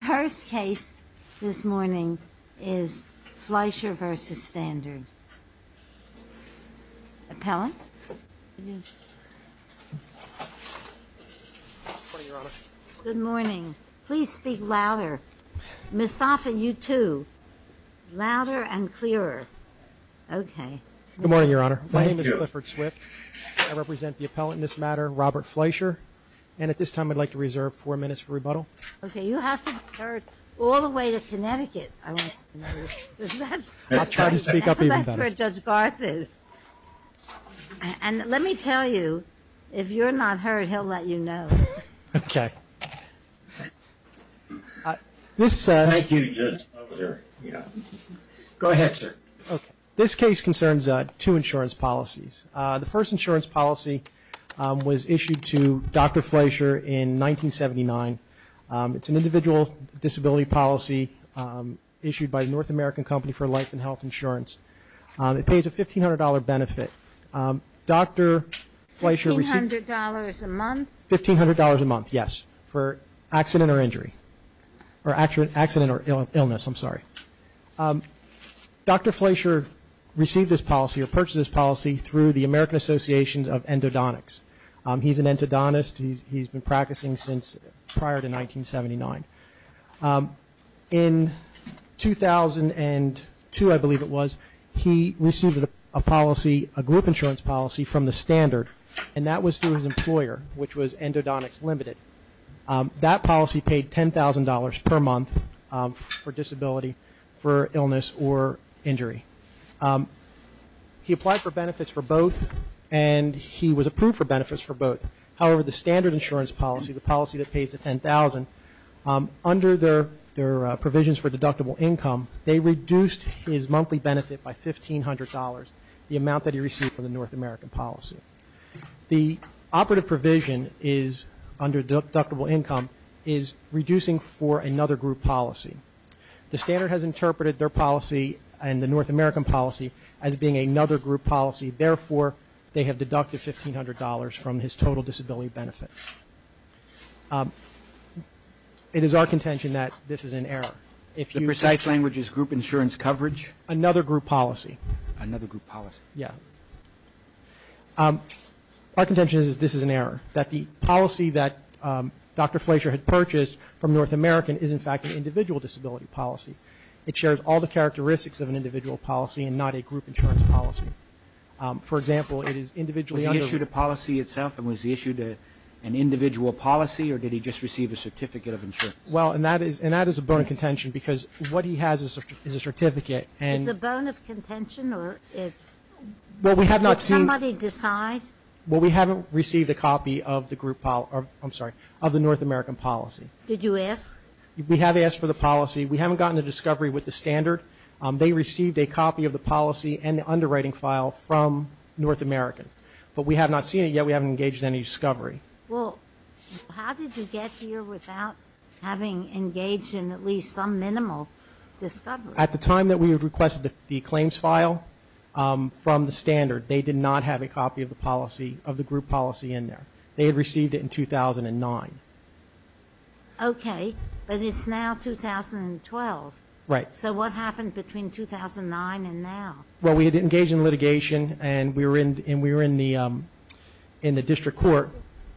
The first case this morning is Fleisher v. Standard. Appellant. Good morning. Please speak louder. Ms. Thompson, you too. Louder and clearer. Okay. Good morning, Your Honor. My name is Clifford Swift. I represent the appellant in this matter, Robert Fleisher. And at this time, I'd like to reserve four minutes for rebuttal. Okay, you have to be heard all the way to Connecticut. I want you to know that's where Judge Garth is. And let me tell you, if you're not heard, he'll let you know. Okay. Thank you, Judge. Go ahead, sir. This case concerns two insurance policies. The first insurance policy was issued to Dr. Fleisher in 1979. It's an individual disability policy issued by a North American company for life and health insurance. It pays a $1,500 benefit. Dr. Fleisher received- $1,500 a month? $1,500 a month, yes, for accident or injury. Or accident or illness, I'm sorry. Dr. Fleisher received this policy or purchased this policy through the American Association of Endodontics. He's an endodontist. He's been practicing since prior to 1979. In 2002, I believe it was, he received a policy, a group insurance policy from the standard. And that was through his employer, which was Endodontics Limited. That policy paid $10,000 per month for disability, for illness or injury. He applied for benefits for both, and he was approved for benefits for both. However, the standard insurance policy, the policy that pays the $10,000, under their provisions for deductible income, they reduced his monthly benefit by $1,500, the amount that he received from the North American policy. The operative provision is, under deductible income, is reducing for another group policy. The standard has interpreted their policy and the North American policy as being another group policy. Therefore, they have deducted $1,500 from his total disability benefit. It is our contention that this is an error. If you- The precise language is group insurance coverage. Another group policy. Another group policy. Yeah. Our contention is this is an error. That the policy that Dr. Fleisher had purchased from North American is, in fact, an individual disability policy. It shares all the characteristics of an individual policy and not a group insurance policy. For example, it is individually under- Was he issued a policy itself, and was he issued an individual policy, or did he just receive a certificate of insurance? Well, and that is a bone of contention, because what he has is a certificate, and- It's a bone of contention, or it's- Well, we have not seen- Did somebody decide? Well, we haven't received a copy of the group, I'm sorry, of the North American policy. Did you ask? We have asked for the policy. We haven't gotten a discovery with the standard. They received a copy of the policy and the underwriting file from North American. But we have not seen it yet. We haven't engaged in any discovery. Well, how did you get here without having engaged in at least some minimal discovery? At the time that we had requested the claims file from the standard, they did not have a copy of the policy, of the group policy in there. They had received it in 2009. Okay, but it's now 2012. Right. So what happened between 2009 and now? Well, we had engaged in litigation, and we were in the district court,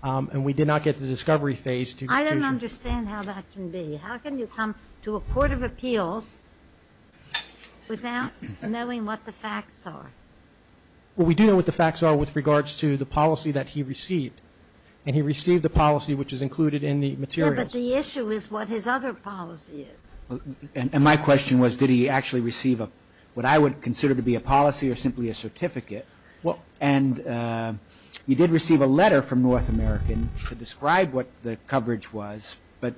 and we did not get the discovery phase to- I don't understand how that can be. How can you come to a court of appeals without knowing what the facts are? Well, we do know what the facts are with regards to the policy that he received. And he received the policy, which is included in the materials. But the issue is what his other policy is. And my question was, did he actually receive what I would consider to be a policy or simply a certificate? And you did receive a letter from North American to describe what the coverage was, but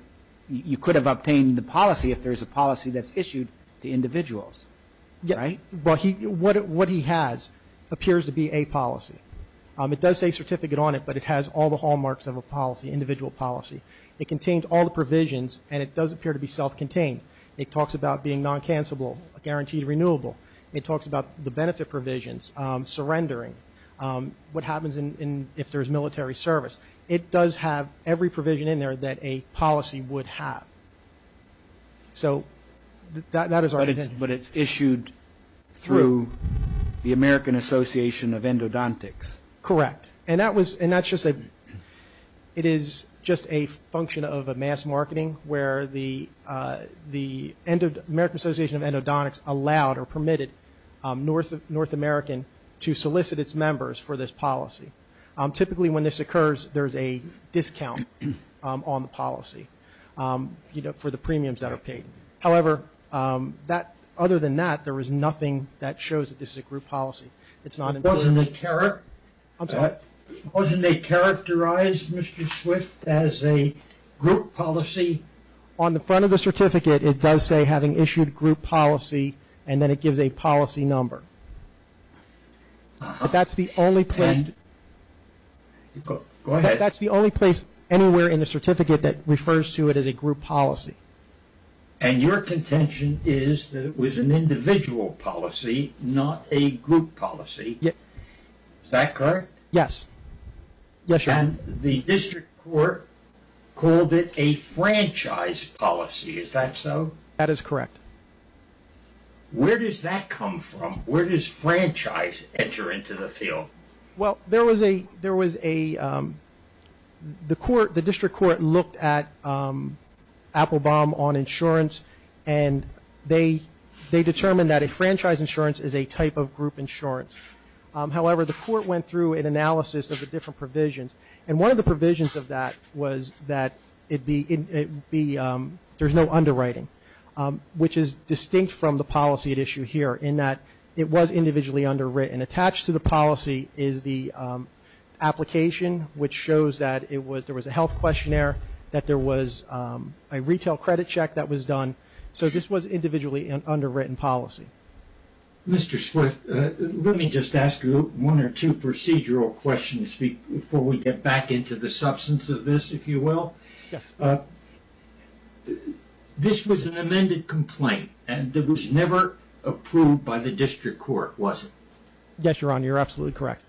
you could have obtained the policy if there's a policy that's issued to individuals. Right? Well, what he has appears to be a policy. It does say certificate on it, but it has all the hallmarks of a policy, individual policy. It contains all the provisions, and it does appear to be self-contained. It talks about being non-cancellable, guaranteed renewable. It talks about the benefit provisions, surrendering, what happens if there's military service. It does have every provision in there that a policy would have. So that is our intent. But it's issued through the American Association of Endodontics. Correct. And that was – and that's just a – it is just a function of a mass marketing where the American Association of Endodontics allowed or permitted North American to solicit its members for this policy. Typically, when this occurs, there's a discount on the policy, you know, for the premiums that are paid. However, that – other than that, there is nothing that shows that this is a group policy. It's not – Wasn't it – wasn't it characterized, Mr. Swift, as a group policy? On the front of the certificate, it does say, having issued group policy, and then it gives a policy number. But that's the only place – And – go ahead. That's the only place anywhere in the certificate that refers to it as a group policy. And your contention is that it was an individual policy, not a group policy. Is that correct? Yes. Yes, sir. And the district court called it a franchise policy. Is that so? That is correct. Where does that come from? Where does franchise enter into the field? Well, there was a – there was a – the court – the district court looked at Applebaum on insurance, and they determined that a franchise insurance is a type of group insurance. However, the court went through an analysis of the different provisions, and one of the provisions of that was that it be – there's no underwriting, which is distinct from the policy at issue here in that it was individually underwritten. Attached to the policy is the application, which shows that it was – there was a health questionnaire, that there was a retail credit check that was done. So this was individually an underwritten policy. Mr. Swift, let me just ask you one or two procedural questions before we get back into the substance of this, if you will. Yes. This was an amended complaint, and it was never approved by the district court, was it? Yes, Your Honor, you're absolutely correct.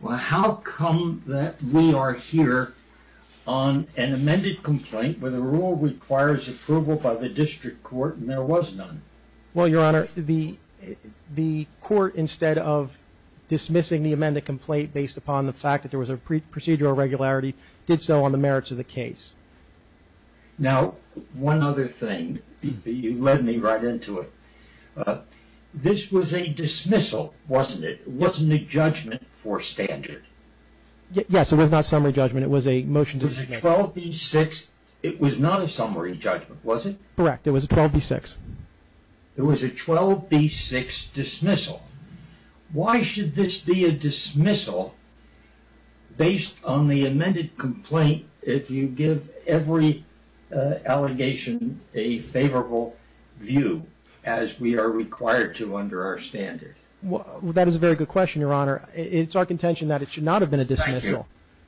Well, how come that we are here on an amended complaint where the rule requires approval by the district court and there was none? Well, Your Honor, the court, instead of dismissing the amended complaint based upon the fact that there was a procedural irregularity, did so on the merits of the case. Now, one other thing, you led me right into it. This was a dismissal, wasn't it? It wasn't a judgment for standard. Yes, it was not a summary judgment. It was a motion to dismiss. It was a 12B6 – it was not a summary judgment, was it? Correct, it was a 12B6. It was a 12B6 dismissal. Why should this be a dismissal based on the amended complaint if you give every allegation a favorable view as we are required to under our standard? Well, that is a very good question, Your Honor. It's our contention that it should not have been a dismissal,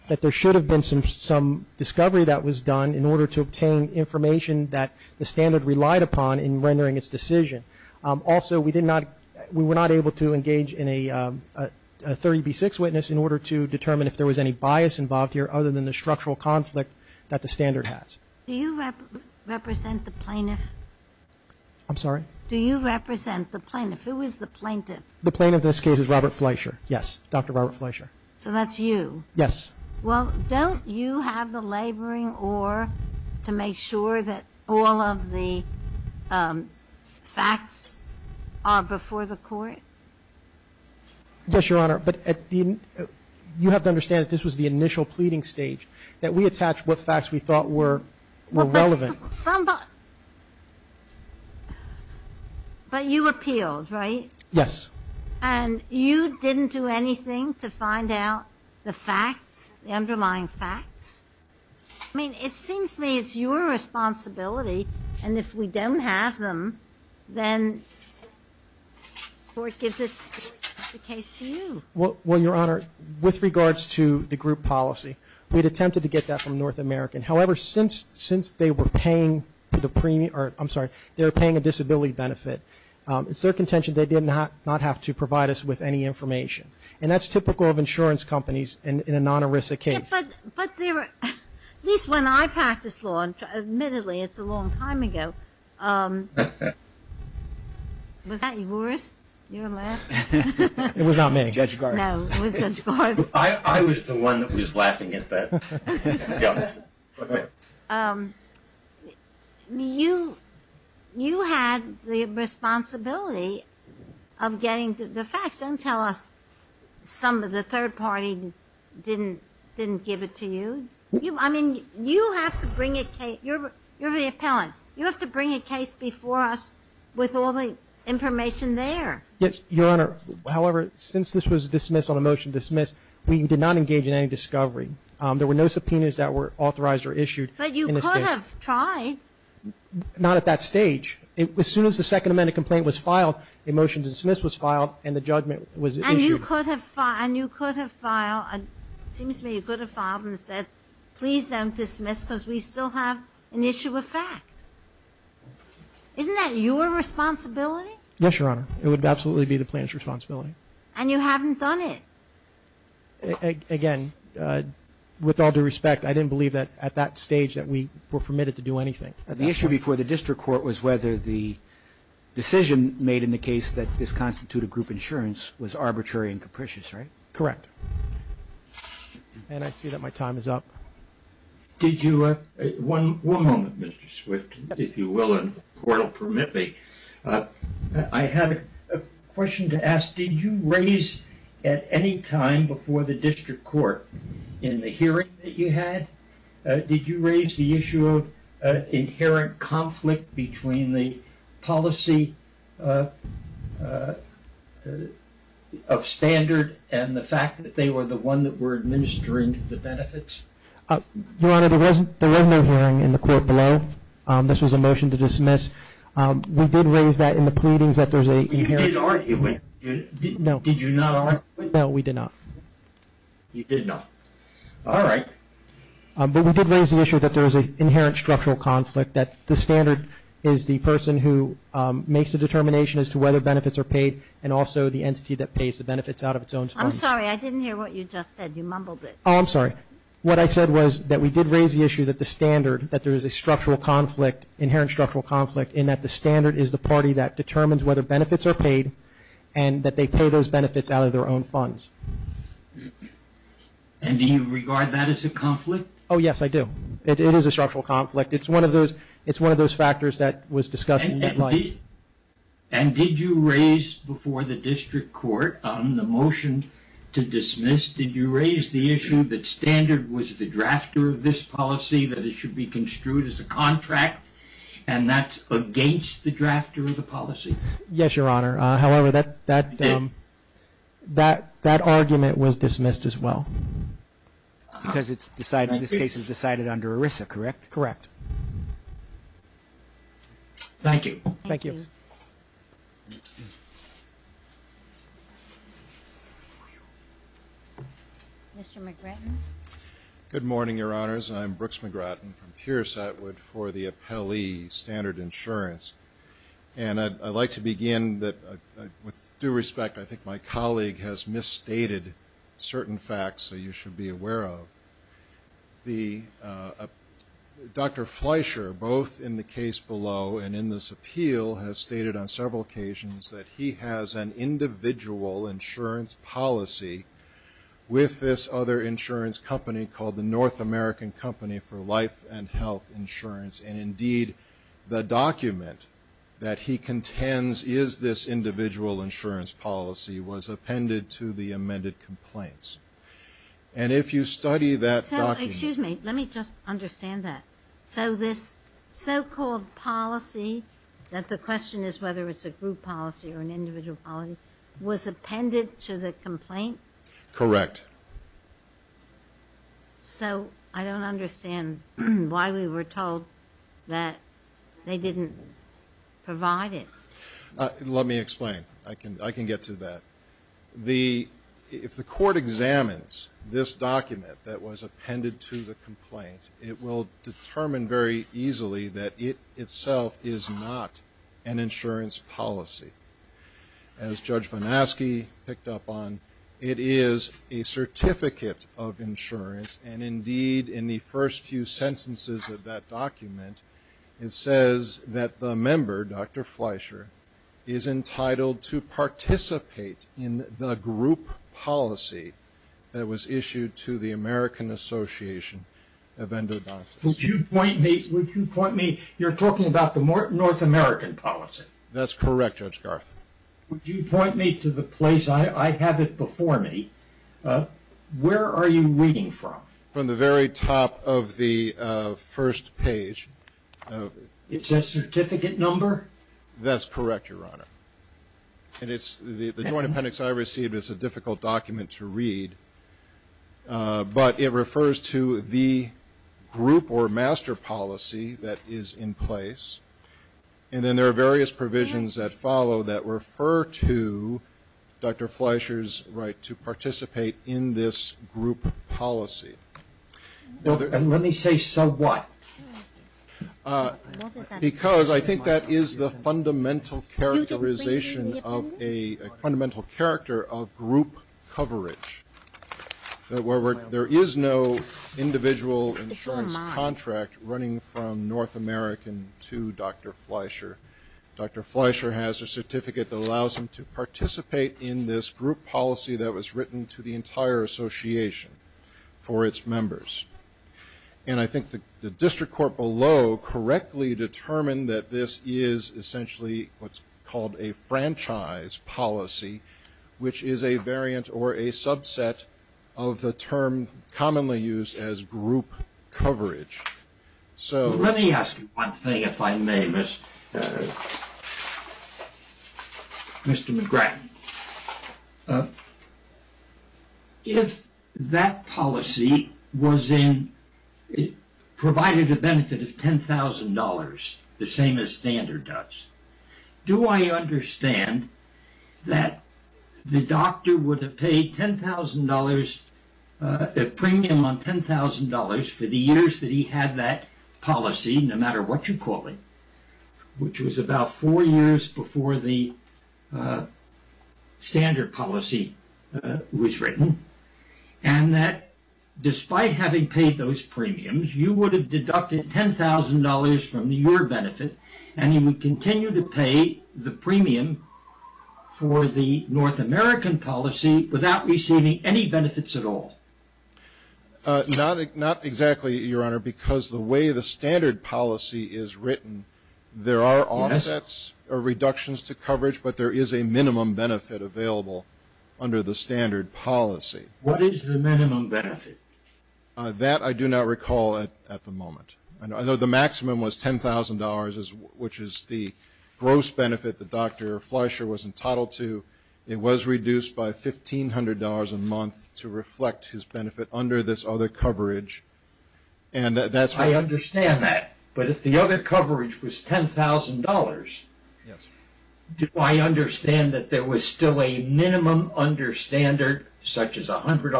that there should have been some discovery that was done in order to obtain information that the standard relied upon in rendering its decision. Also, we were not able to engage in a 30B6 witness in order to determine if there was any bias involved here within the structural conflict that the standard has. Do you represent the plaintiff? I'm sorry? Do you represent the plaintiff? Who is the plaintiff? The plaintiff in this case is Robert Fleischer. Yes, Dr. Robert Fleischer. So that's you? Yes. Well, don't you have the laboring oar to make sure that all of the facts are before the court? Yes, Your Honor, but you have to understand that this was the initial pleading stage, that we attached what facts we thought were relevant. But you appealed, right? Yes. And you didn't do anything to find out the facts, the underlying facts? I mean, it seems to me it's your responsibility, and if we don't have them, then the court gives it to the case to you. Well, Your Honor, with regards to the group policy, we had attempted to get that from North American. However, since they were paying a disability benefit, it's their contention they did not have to provide us with any information. And that's typical of insurance companies in a non-ERISA case. But at least when I practiced law, admittedly it's a long time ago, was that yours, your lab? It was not me. Judge Garza. No, it was Judge Garza. I was the one that was laughing at that. You had the responsibility of getting the facts. Don't tell us some of the third party didn't give it to you. I mean, you have to bring a case. You're the appellant. You have to bring a case before us with all the information there. Yes, Your Honor. However, since this was dismissed on a motion dismissed, we did not engage in any discovery. There were no subpoenas that were authorized or issued. But you could have tried. Not at that stage. As soon as the Second Amendment complaint was filed, a motion to dismiss was filed, and the judgment was issued. And you could have filed, it seems to me, you could have filed and said, please don't dismiss, because we still have an issue of fact. Isn't that your responsibility? Yes, Your Honor. It would absolutely be the plaintiff's responsibility. And you haven't done it. Again, with all due respect, I didn't believe that at that stage that we were permitted to do anything. The issue before the district court was whether the decision made in the case that this constituted group insurance was arbitrary and capricious, right? Correct. And I see that my time is up. Did you, one moment, Mr. Swift, if you will, and the court will permit me. I had a question to ask. Did you raise at any time before the district court in the hearing that you had, did you raise the issue of inherent conflict between the policy of standard and the fact that they were the one that were administering the benefits? Your Honor, there was no hearing in the court below. This was a motion to dismiss. We did raise that in the pleadings that there's a inherent conflict. You did argue it. No. Did you not argue it? No, we did not. You did not. All right. But we did raise the issue that there is an inherent structural conflict, that the standard is the person who makes the determination as to whether benefits are paid and also the entity that pays the benefits out of its own funds. I'm sorry, I didn't hear what you just said. You mumbled it. Oh, I'm sorry. What I said was that we did raise the issue that the standard, that there is a structural conflict, inherent structural conflict, in that the standard is the party that determines whether benefits are paid and that they pay those benefits out of their own funds. And do you regard that as a conflict? Oh, yes, I do. It is a structural conflict. It's one of those factors that was discussed in the plight. And did you raise before the district court the motion to dismiss, did you raise the issue that standard was the drafter of this policy, that it should be construed as a contract, and that's against the drafter of the policy? Yes, Your Honor. However, that argument was dismissed as well. Because it's decided, this case is decided under ERISA, correct? Correct. Thank you. Thank you. Mr. McGratton? Good morning, Your Honors. I'm Brooks McGratton from Pierce Atwood for the Appellee Standard Insurance. And I'd like to begin that, with due respect, I think my colleague has misstated certain facts that you should be aware of. Dr. Fleischer, both in the case below and in this appeal, has stated on several occasions that he has an individual insurance policy with this other insurance company called the North American Company for Life and Health Insurance. And indeed, the document that he contends is this individual insurance policy was appended to the amended complaints. And if you study that document. So, excuse me, let me just understand that. So this so-called policy, that the question is whether it's a group policy or an individual policy, was appended to the complaint? Correct. So, I don't understand why we were told that they didn't provide it. Let me explain. I can get to that. If the court examines this document that was appended to the complaint, it will determine very easily that it itself is not an insurance policy. As Judge Von Aske picked up on, it is a certificate of insurance. And indeed, in the first few sentences of that document, it says that the member, Dr. Fleischer, is entitled to participate in the group policy that was issued to the American Association of Endodontists. Would you point me, you're talking about the North American policy. That's correct, Judge Garth. Would you point me to the place? I have it before me. Where are you reading from? From the very top of the first page. It's a certificate number? That's correct, Your Honor. And the joint appendix I received is a difficult document to read. But it refers to the group or master policy that is in place. And then there are various provisions that follow that refer to Dr. Fleischer's right to participate in this group policy. And let me say so what? Because I think that is the fundamental characterization of a fundamental character of group coverage. There is no individual insurance contract running from North American to Dr. Fleischer. Dr. Fleischer has a certificate that allows him to participate in this group policy that was written to the entire association for its members. And I think the district court below correctly determined that this is essentially what's called a franchise policy, which is a variant or a subset of the term commonly used as group coverage. So let me ask you one thing, if I may, Mr. McGrattan. If that policy provided a benefit of $10,000, the same as standard does, do I understand that the doctor would have paid $10,000 a premium on $10,000 for the years that he had that policy, no matter what you call it, which was about four years before the standard policy was written, and that despite having paid those premiums, you would have deducted $10,000 from your benefit, and you would continue to pay the premium for the North American policy without receiving any benefits at all? Not exactly, Your Honor, because the way the standard policy is written, there are offsets or reductions to coverage, but there is a minimum benefit available under the standard policy. What is the minimum benefit? That I do not recall at the moment. I know the maximum was $10,000, which is the gross benefit that Dr. Fleischer was entitled to. It was reduced by $1,500 a month to reflect his benefit under this other coverage, and that's why I understand that. But if the other coverage was $10,000, do I understand that there was still a minimum under standard, such as $100 or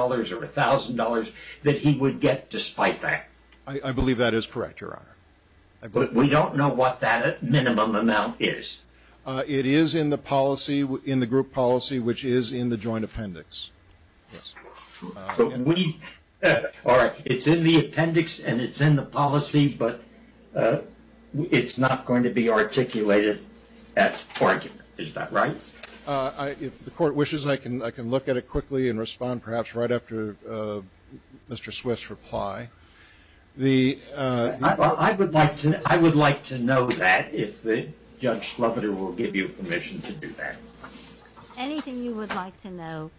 $1,000, that he would get despite that? I believe that is correct, Your Honor. We don't know what that minimum amount is. It is in the policy, in the group policy, which is in the joint appendix. It's in the appendix, and it's in the policy, but it's not going to be articulated as part of it. Is that right? If the court wishes, I can look at it quickly and respond, perhaps right after Mr. Swift's reply. The I would like to know that if Judge Schlupeter will give you permission to do that. Anything you would like to know,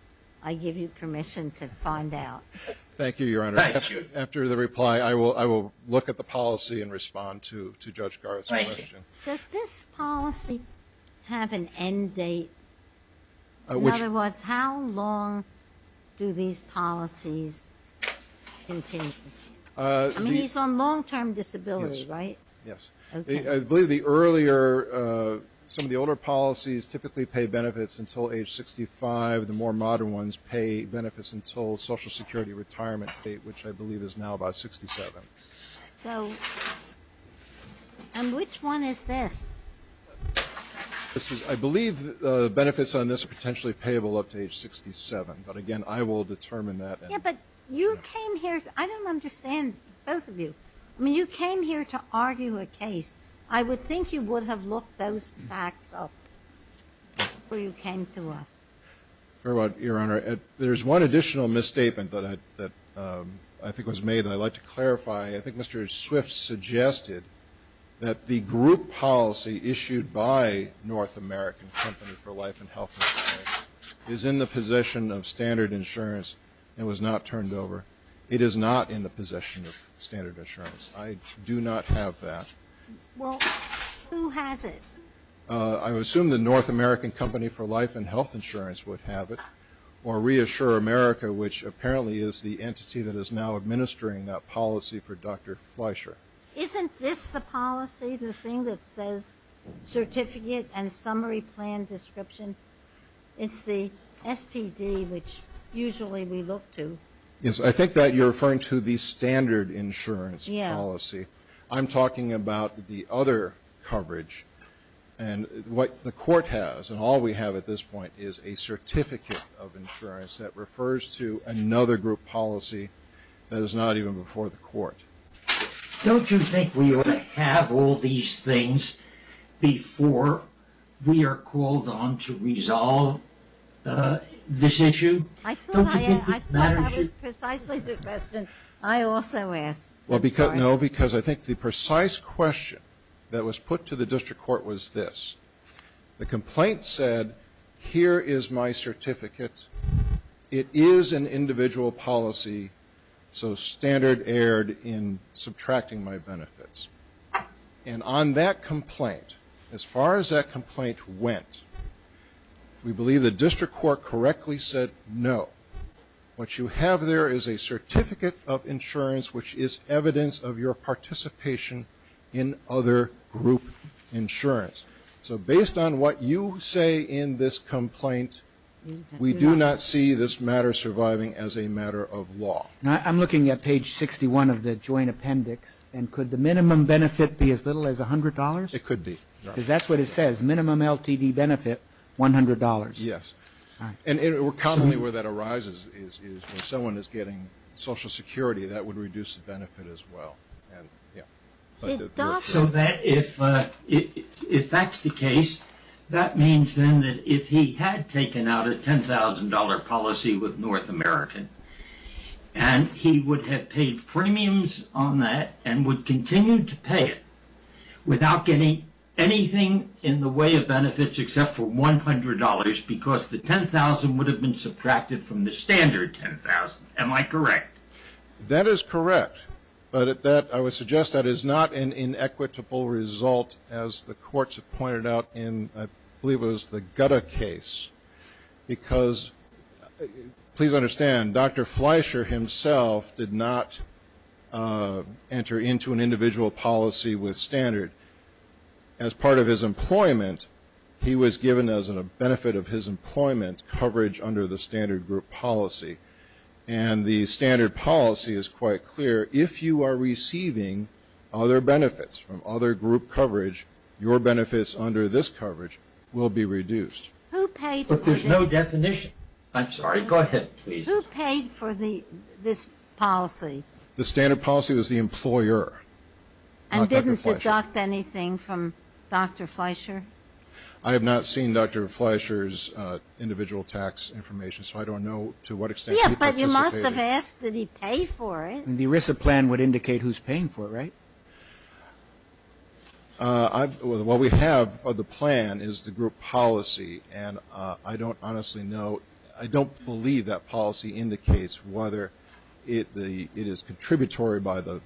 I give you permission to find out. Thank you, Your Honor. After the reply, I will look at the policy and respond to Judge Garth's question. Does this policy have an end date? In other words, how long do these policies continue? I mean, he's on long-term disability, right? Yes. I believe the earlier, some of the older policies typically pay benefits until age 65. The more modern ones pay benefits until Social Security retirement date, which I believe is now about 67. And which one is this? This is, I believe, the benefits on this are potentially payable up to age 67. But again, I will determine that. Yeah, but you came here. I don't understand both of you. I mean, you came here to argue a case. I would think you would have looked those facts up before you came to us. Fair enough, Your Honor. There's one additional misstatement that I think was made that I'd like to clarify. I think Mr. Swift suggested that the group policy issued by North American Company for Life and Health Insurance is in the possession of Standard Insurance and was not turned over. It is not in the possession of Standard Insurance. I do not have that. Well, who has it? I would assume the North American Company for Life and Health Insurance would have it, or Reassure America, which apparently is the entity that is now administering that policy for Dr. Fleischer. Isn't this the policy, the thing that says Certificate and Summary Plan Description? It's the SPD, which usually we look to. Yes, I think that you're referring to the Standard Insurance policy. I'm talking about the other coverage. And what the court has, and all we have at this point, is a certificate of insurance that refers to another group policy that is not even before the court. Don't you think we ought to have all these things before we are called on to resolve this issue? I thought that was precisely the question I also asked. Well, no, because I think the precise question that was put to the district court was this. The complaint said, here is my certificate. It is an individual policy. So standard erred in subtracting my benefits. And on that complaint, as far as that complaint went, we believe the district court correctly said no. What you have there is a certificate of insurance, which is evidence of your participation in other group insurance. So based on what you say in this complaint, we do not see this matter surviving as a matter of law. I'm looking at page 61 of the joint appendix. And could the minimum benefit be as little as $100? It could be. Because that's what it says, minimum LTD benefit, $100. Yes. And commonly where that arises is when someone is getting Social Security, that would reduce the benefit as well. So that if that's the case, that means then if he had taken out a $10,000 policy with North American, and he would have paid premiums on that and would continue to pay it without getting anything in the way of benefits except for $100 because the $10,000 would have been subtracted from the standard $10,000. Am I correct? That is correct. But I would suggest that is not an inequitable result, as the courts have pointed out in, I believe it was the Gutta case. Because, please understand, Dr. Fleischer himself did not enter into an individual policy with standard. As part of his employment, he was given as a benefit of his employment coverage under the standard group policy. And the standard policy is quite clear. If you are receiving other benefits from other group coverage, your benefits under this coverage will be reduced. Who paid for this? But there's no definition. I'm sorry. Go ahead, please. Who paid for this policy? The standard policy was the employer, not Dr. Fleischer. And didn't deduct anything from Dr. Fleischer? I have not seen Dr. Fleischer's individual tax information, so I don't know to what extent he participated. Yeah, but you must have asked that he pay for it. And the ERISA plan would indicate who's paying for it, right? Well, what we have for the plan is the group policy. And I don't honestly know. I don't believe that policy indicates whether it is contributory by the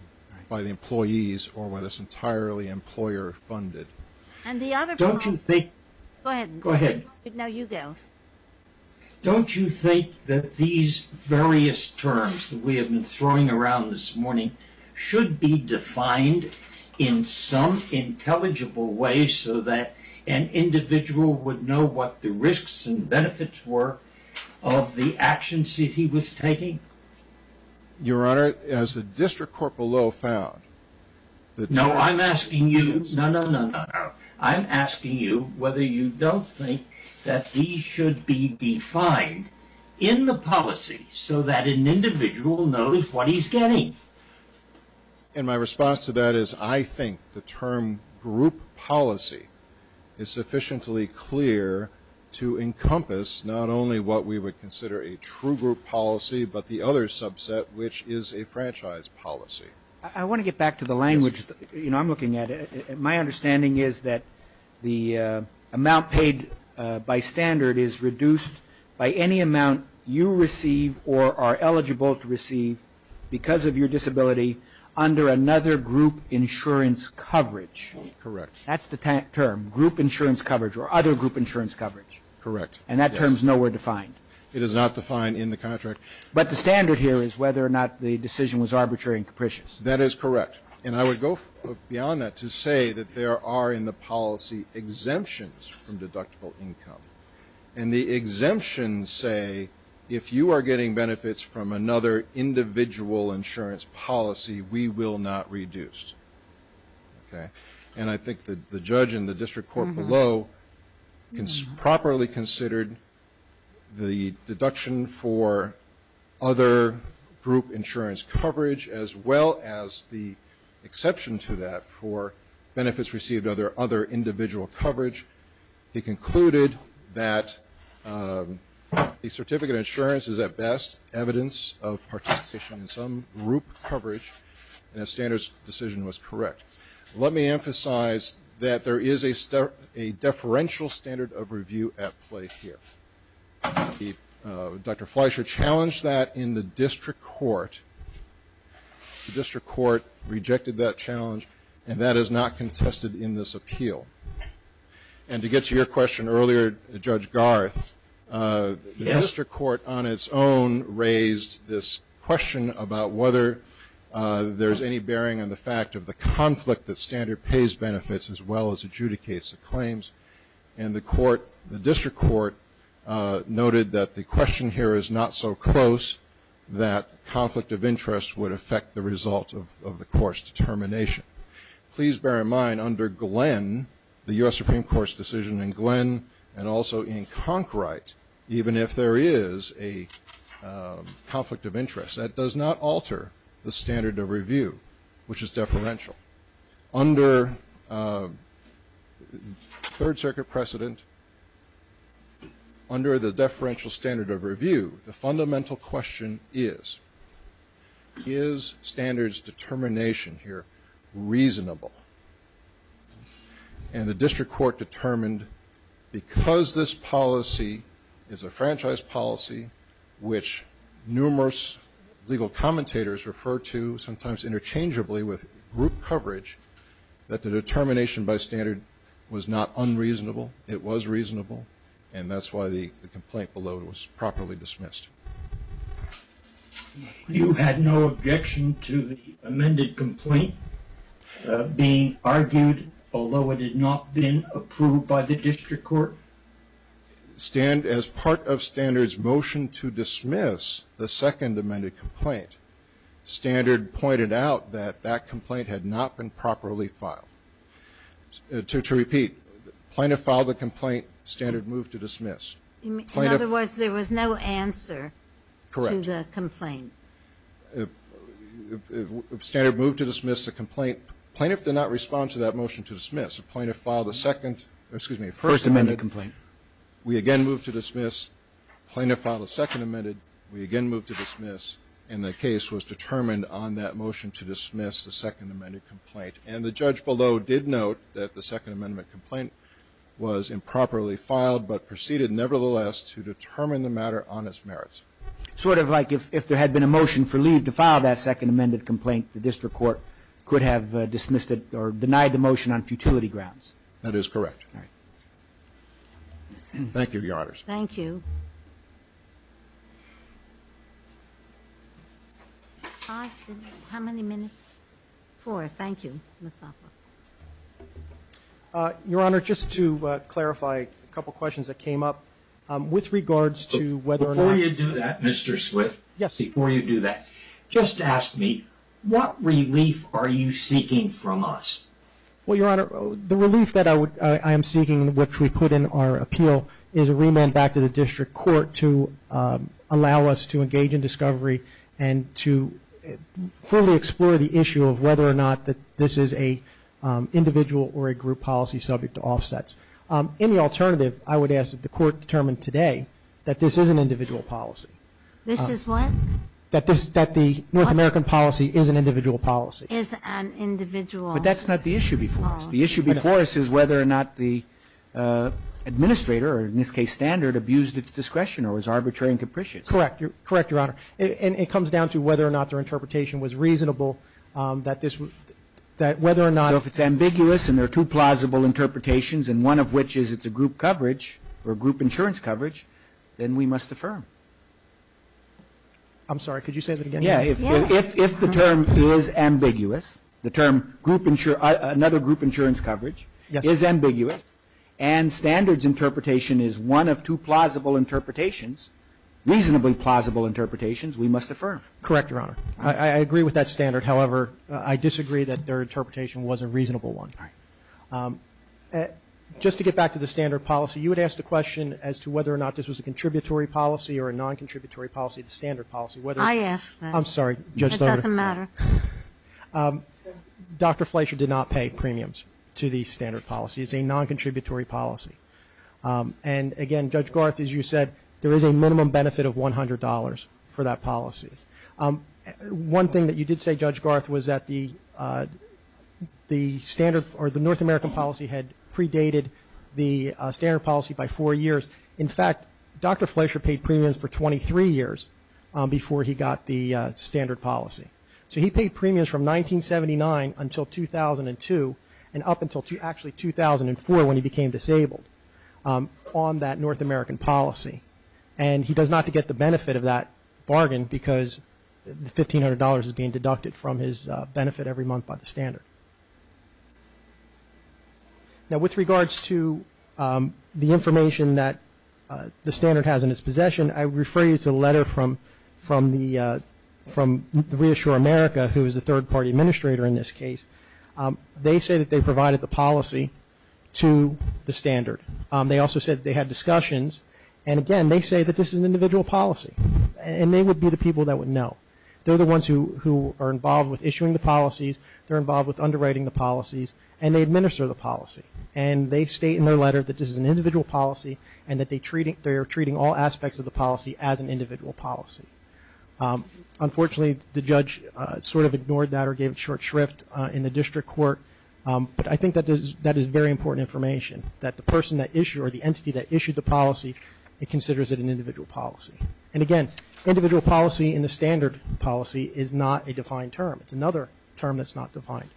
employees or whether it's entirely employer funded. And the other problem is that these various terms that we have been throwing around this morning should be defined in some intelligible way so that an individual would know what the risks and benefits were of the actions that he was taking. Your Honor, as the District Corporal Lowe found, the terms that he was using. No, no, no, no, no. I'm asking you whether you don't think that these should be defined in the policy so that an individual knows what he's getting. And my response to that is I think the term group policy is sufficiently clear to encompass not only what we would consider a true group policy, but the other subset, which is a franchise policy. I want to get back to the language I'm looking at. My understanding is that the amount paid by standard is reduced by any amount you receive or are eligible to receive because of your disability under another group insurance coverage. Correct. That's the term, group insurance coverage or other group insurance coverage. Correct. And that term's nowhere defined. It is not defined in the contract. But the standard here is whether or not the decision was arbitrary and capricious. That is correct. And I would go beyond that to say that there are in the policy exemptions from deductible income. And the exemptions say if you are getting benefits from another individual insurance policy, we will not reduce. And I think that the judge in the district court below properly considered the deduction for other group insurance coverage as well as the exception to that for benefits received under other individual coverage. He concluded that the certificate of insurance is, at best, evidence of participation in some group coverage, and the standard's decision was correct. Let me emphasize that there is a deferential standard of review at play here. Dr. Fleischer challenged that in the district court. The district court rejected that challenge and that is not contested in this appeal. And to get to your question earlier, Judge Garth, the district court on its own raised this question about whether there is any bearing on the fact of the conflict that standard pays benefits as well as adjudicates the claims. And the district court noted that the question here is not so close that conflict of interest would affect the result of the court's determination. Please bear in mind, under Glenn, the US Supreme Court's decision in Glenn and also in Conkright, even if there is a conflict of interest, that does not alter the standard of review, which is deferential. under the deferential standard of review, the fundamental question is, is standards determination here reasonable? And the district court determined, because this policy is a franchise policy, which numerous legal commentators refer to sometimes interchangeably with group coverage, that the determination by standard was not unreasonable. It was reasonable, and that's why the complaint below was properly dismissed. You had no objection to the amended complaint being argued, although it had not been approved by the district court? As part of standard's motion to dismiss the second amended complaint, standard pointed out that that complaint had not been properly filed. To repeat, plaintiff filed the complaint, standard moved to dismiss. In other words, there was no answer to the complaint. Correct. Standard moved to dismiss the complaint. Plaintiff did not respond to that motion to dismiss. The plaintiff filed the second, excuse me, first amended complaint. We again moved to dismiss. Plaintiff filed the second amended. We again moved to dismiss, and the case was determined on that motion to dismiss the second amended complaint. And the judge below did note that the second amendment complaint was improperly filed, but proceeded nevertheless to determine the matter on its merits. Sort of like if there had been a motion for leave to file that second amended complaint, the district court could have dismissed it or denied the motion on futility grounds. That is correct. Thank you, Your Honors. Thank you. How many minutes? Four. Thank you, Ms. Offa. Your Honor, just to clarify a couple of questions that came up, with regards to whether or not- Before you do that, Mr. Swift, before you do that, just ask me, what relief are you seeking from us? Well, Your Honor, the relief that I am seeking, which we put in our appeal, is a remand back to the district court to allow us to engage in discovery and to fully explore the issue of whether or not that this is a individual or a group policy subject to offsets. Any alternative, I would ask that the court determine today that this is an individual policy. This is what? That the North American policy is an individual policy. Is an individual policy. But that's not the issue before us. The issue before us is whether or not the administrator, or in this case, Standard, abused its discretion or was arbitrary and capricious. Correct. Correct, Your Honor. And it comes down to whether or not their interpretation was reasonable, that whether or not- So if it's ambiguous, and there are two plausible interpretations, and one of which is it's a group coverage, or group insurance coverage, then we must affirm. I'm sorry, could you say that again? Yeah. If the term is ambiguous, the term another group insurance coverage is ambiguous, and Standard's interpretation is one of two plausible interpretations, reasonably plausible interpretations, we must affirm. Correct, Your Honor. I agree with that standard. However, I disagree that their interpretation was a reasonable one. All right. Just to get back to the Standard policy, you would ask the question as to whether or not this was a contributory policy or a non-contributory policy, the Standard policy, whether- I asked that. I'm sorry, Judge Loader. It doesn't matter. Dr. Fleischer did not pay premiums to the Standard policy. It's a non-contributory policy. And again, Judge Garth, as you said, there is a minimum benefit of $100 for that policy. One thing that you did say, Judge Garth, was that the North American policy had predated the Standard policy by four years. In fact, Dr. Fleischer paid premiums for 23 years before he got the Standard policy. So he paid premiums from 1979 until 2002, and up until actually 2004 when he became disabled on that North American policy. And he does not get the benefit of that bargain because the $1,500 is being deducted from his benefit every month by the Standard. Now, with regards to the information that the Standard has in its possession, I refer you to a letter from Reassure America, who is a third-party administrator in this case. They say that they provided the policy to the Standard. They also said that they had discussions. And again, they say that this is an individual policy, and they would be the people that would know. They're the ones who are involved with issuing the policies, they're involved with underwriting the policies, and they administer the policy. And they state in their letter that this is an individual policy, and that they are treating all aspects of the policy as an individual policy. Unfortunately, the judge sort of ignored that or gave it short shrift in the district court. But I think that is very important information, that the person that issued, or the entity that issued the policy, it considers it an individual policy. And again, individual policy in the Standard policy is not a defined term. It's another term that's not defined.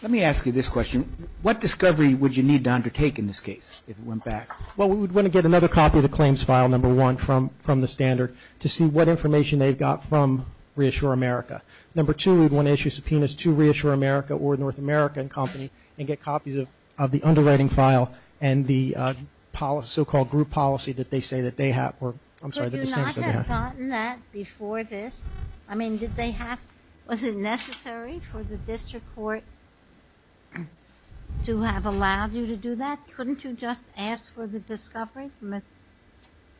Let me ask you this question. What discovery would you need to undertake in this case, if it went back? Well, we would want to get another copy of the claims file, number one, from the Standard to see what information they've got from Reassure America. Number two, we'd want to issue subpoenas to Reassure America or North American Company and get copies of the underwriting file and the so-called group policy that they say that they have, or I'm sorry, that the standards say they have. Could you not have gotten that before this? I mean, did they have, was it necessary for the district court to have allowed you to do that? Couldn't you just ask for the discovery?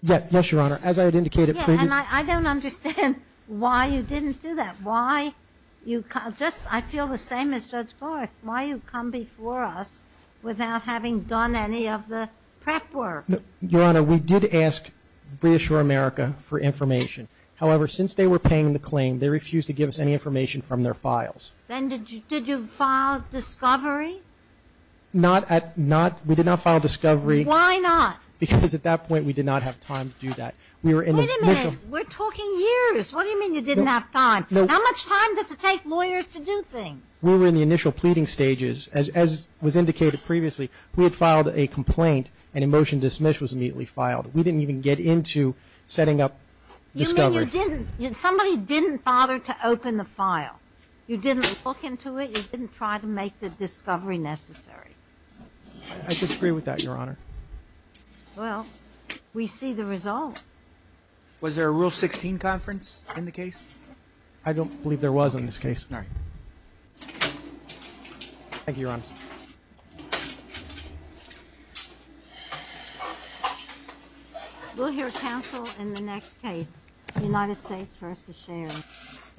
Yes, Your Honor. As I had indicated previously. Yeah, and I don't understand why you didn't do that. Why you, I feel the same as Judge Gorth, why you come before us without having done any of the prep work? Your Honor, we did ask Reassure America for information. However, since they were paying the claim, they refused to give us any information from their files. Then did you file discovery? Not at, we did not file discovery. Why not? Because at that point, we did not have time to do that. We were in the- Wait a minute, we're talking years. What do you mean you didn't have time? How much time does it take lawyers to do things? We were in the initial pleading stages. As was indicated previously, we had filed a complaint and a motion to dismiss was immediately filed. We didn't even get into setting up discovery. You mean you didn't, somebody didn't bother to open the file. You didn't look into it, you didn't try to make the discovery necessary. I disagree with that, Your Honor. Well, we see the result. Was there a Rule 16 conference in the case? I don't believe there was in this case. All right. Thank you, Your Honor. We'll hear counsel in the next case, United States v. Sherry. Thank you.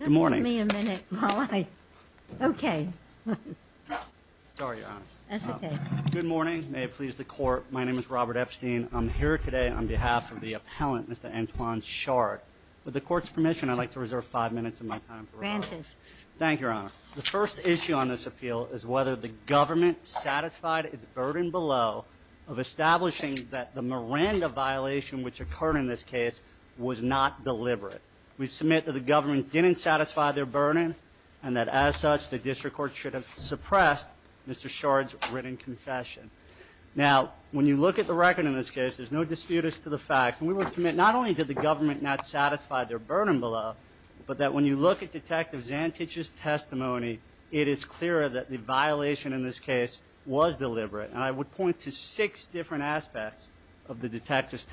Good morning. Just give me a minute, Molly. Okay. Sorry, Your Honor. That's okay. Good morning. May it please the court. My name is Robert Epstein. I'm here today on behalf of the appellant, Mr. Antoine Chart. With the court's permission, I'd like to reserve five minutes of my time for rebuttal. Granted. Thank you, Your Honor. The first issue on this appeal is whether the government satisfied its burden below of establishing that the Miranda violation which occurred in this case was not deliberate. We submit that the government didn't satisfy their burden and that as such, the district court should have suppressed Mr. Chart's written confession. Now, when you look at the record in this case, there's no dispute as to the facts. And we would submit not only did the government not satisfy their burden below, but that when you look at Detective Zantich's testimony, it is clear that the violation in this case was deliberate. And I would point to six different aspects of the detective's testimony.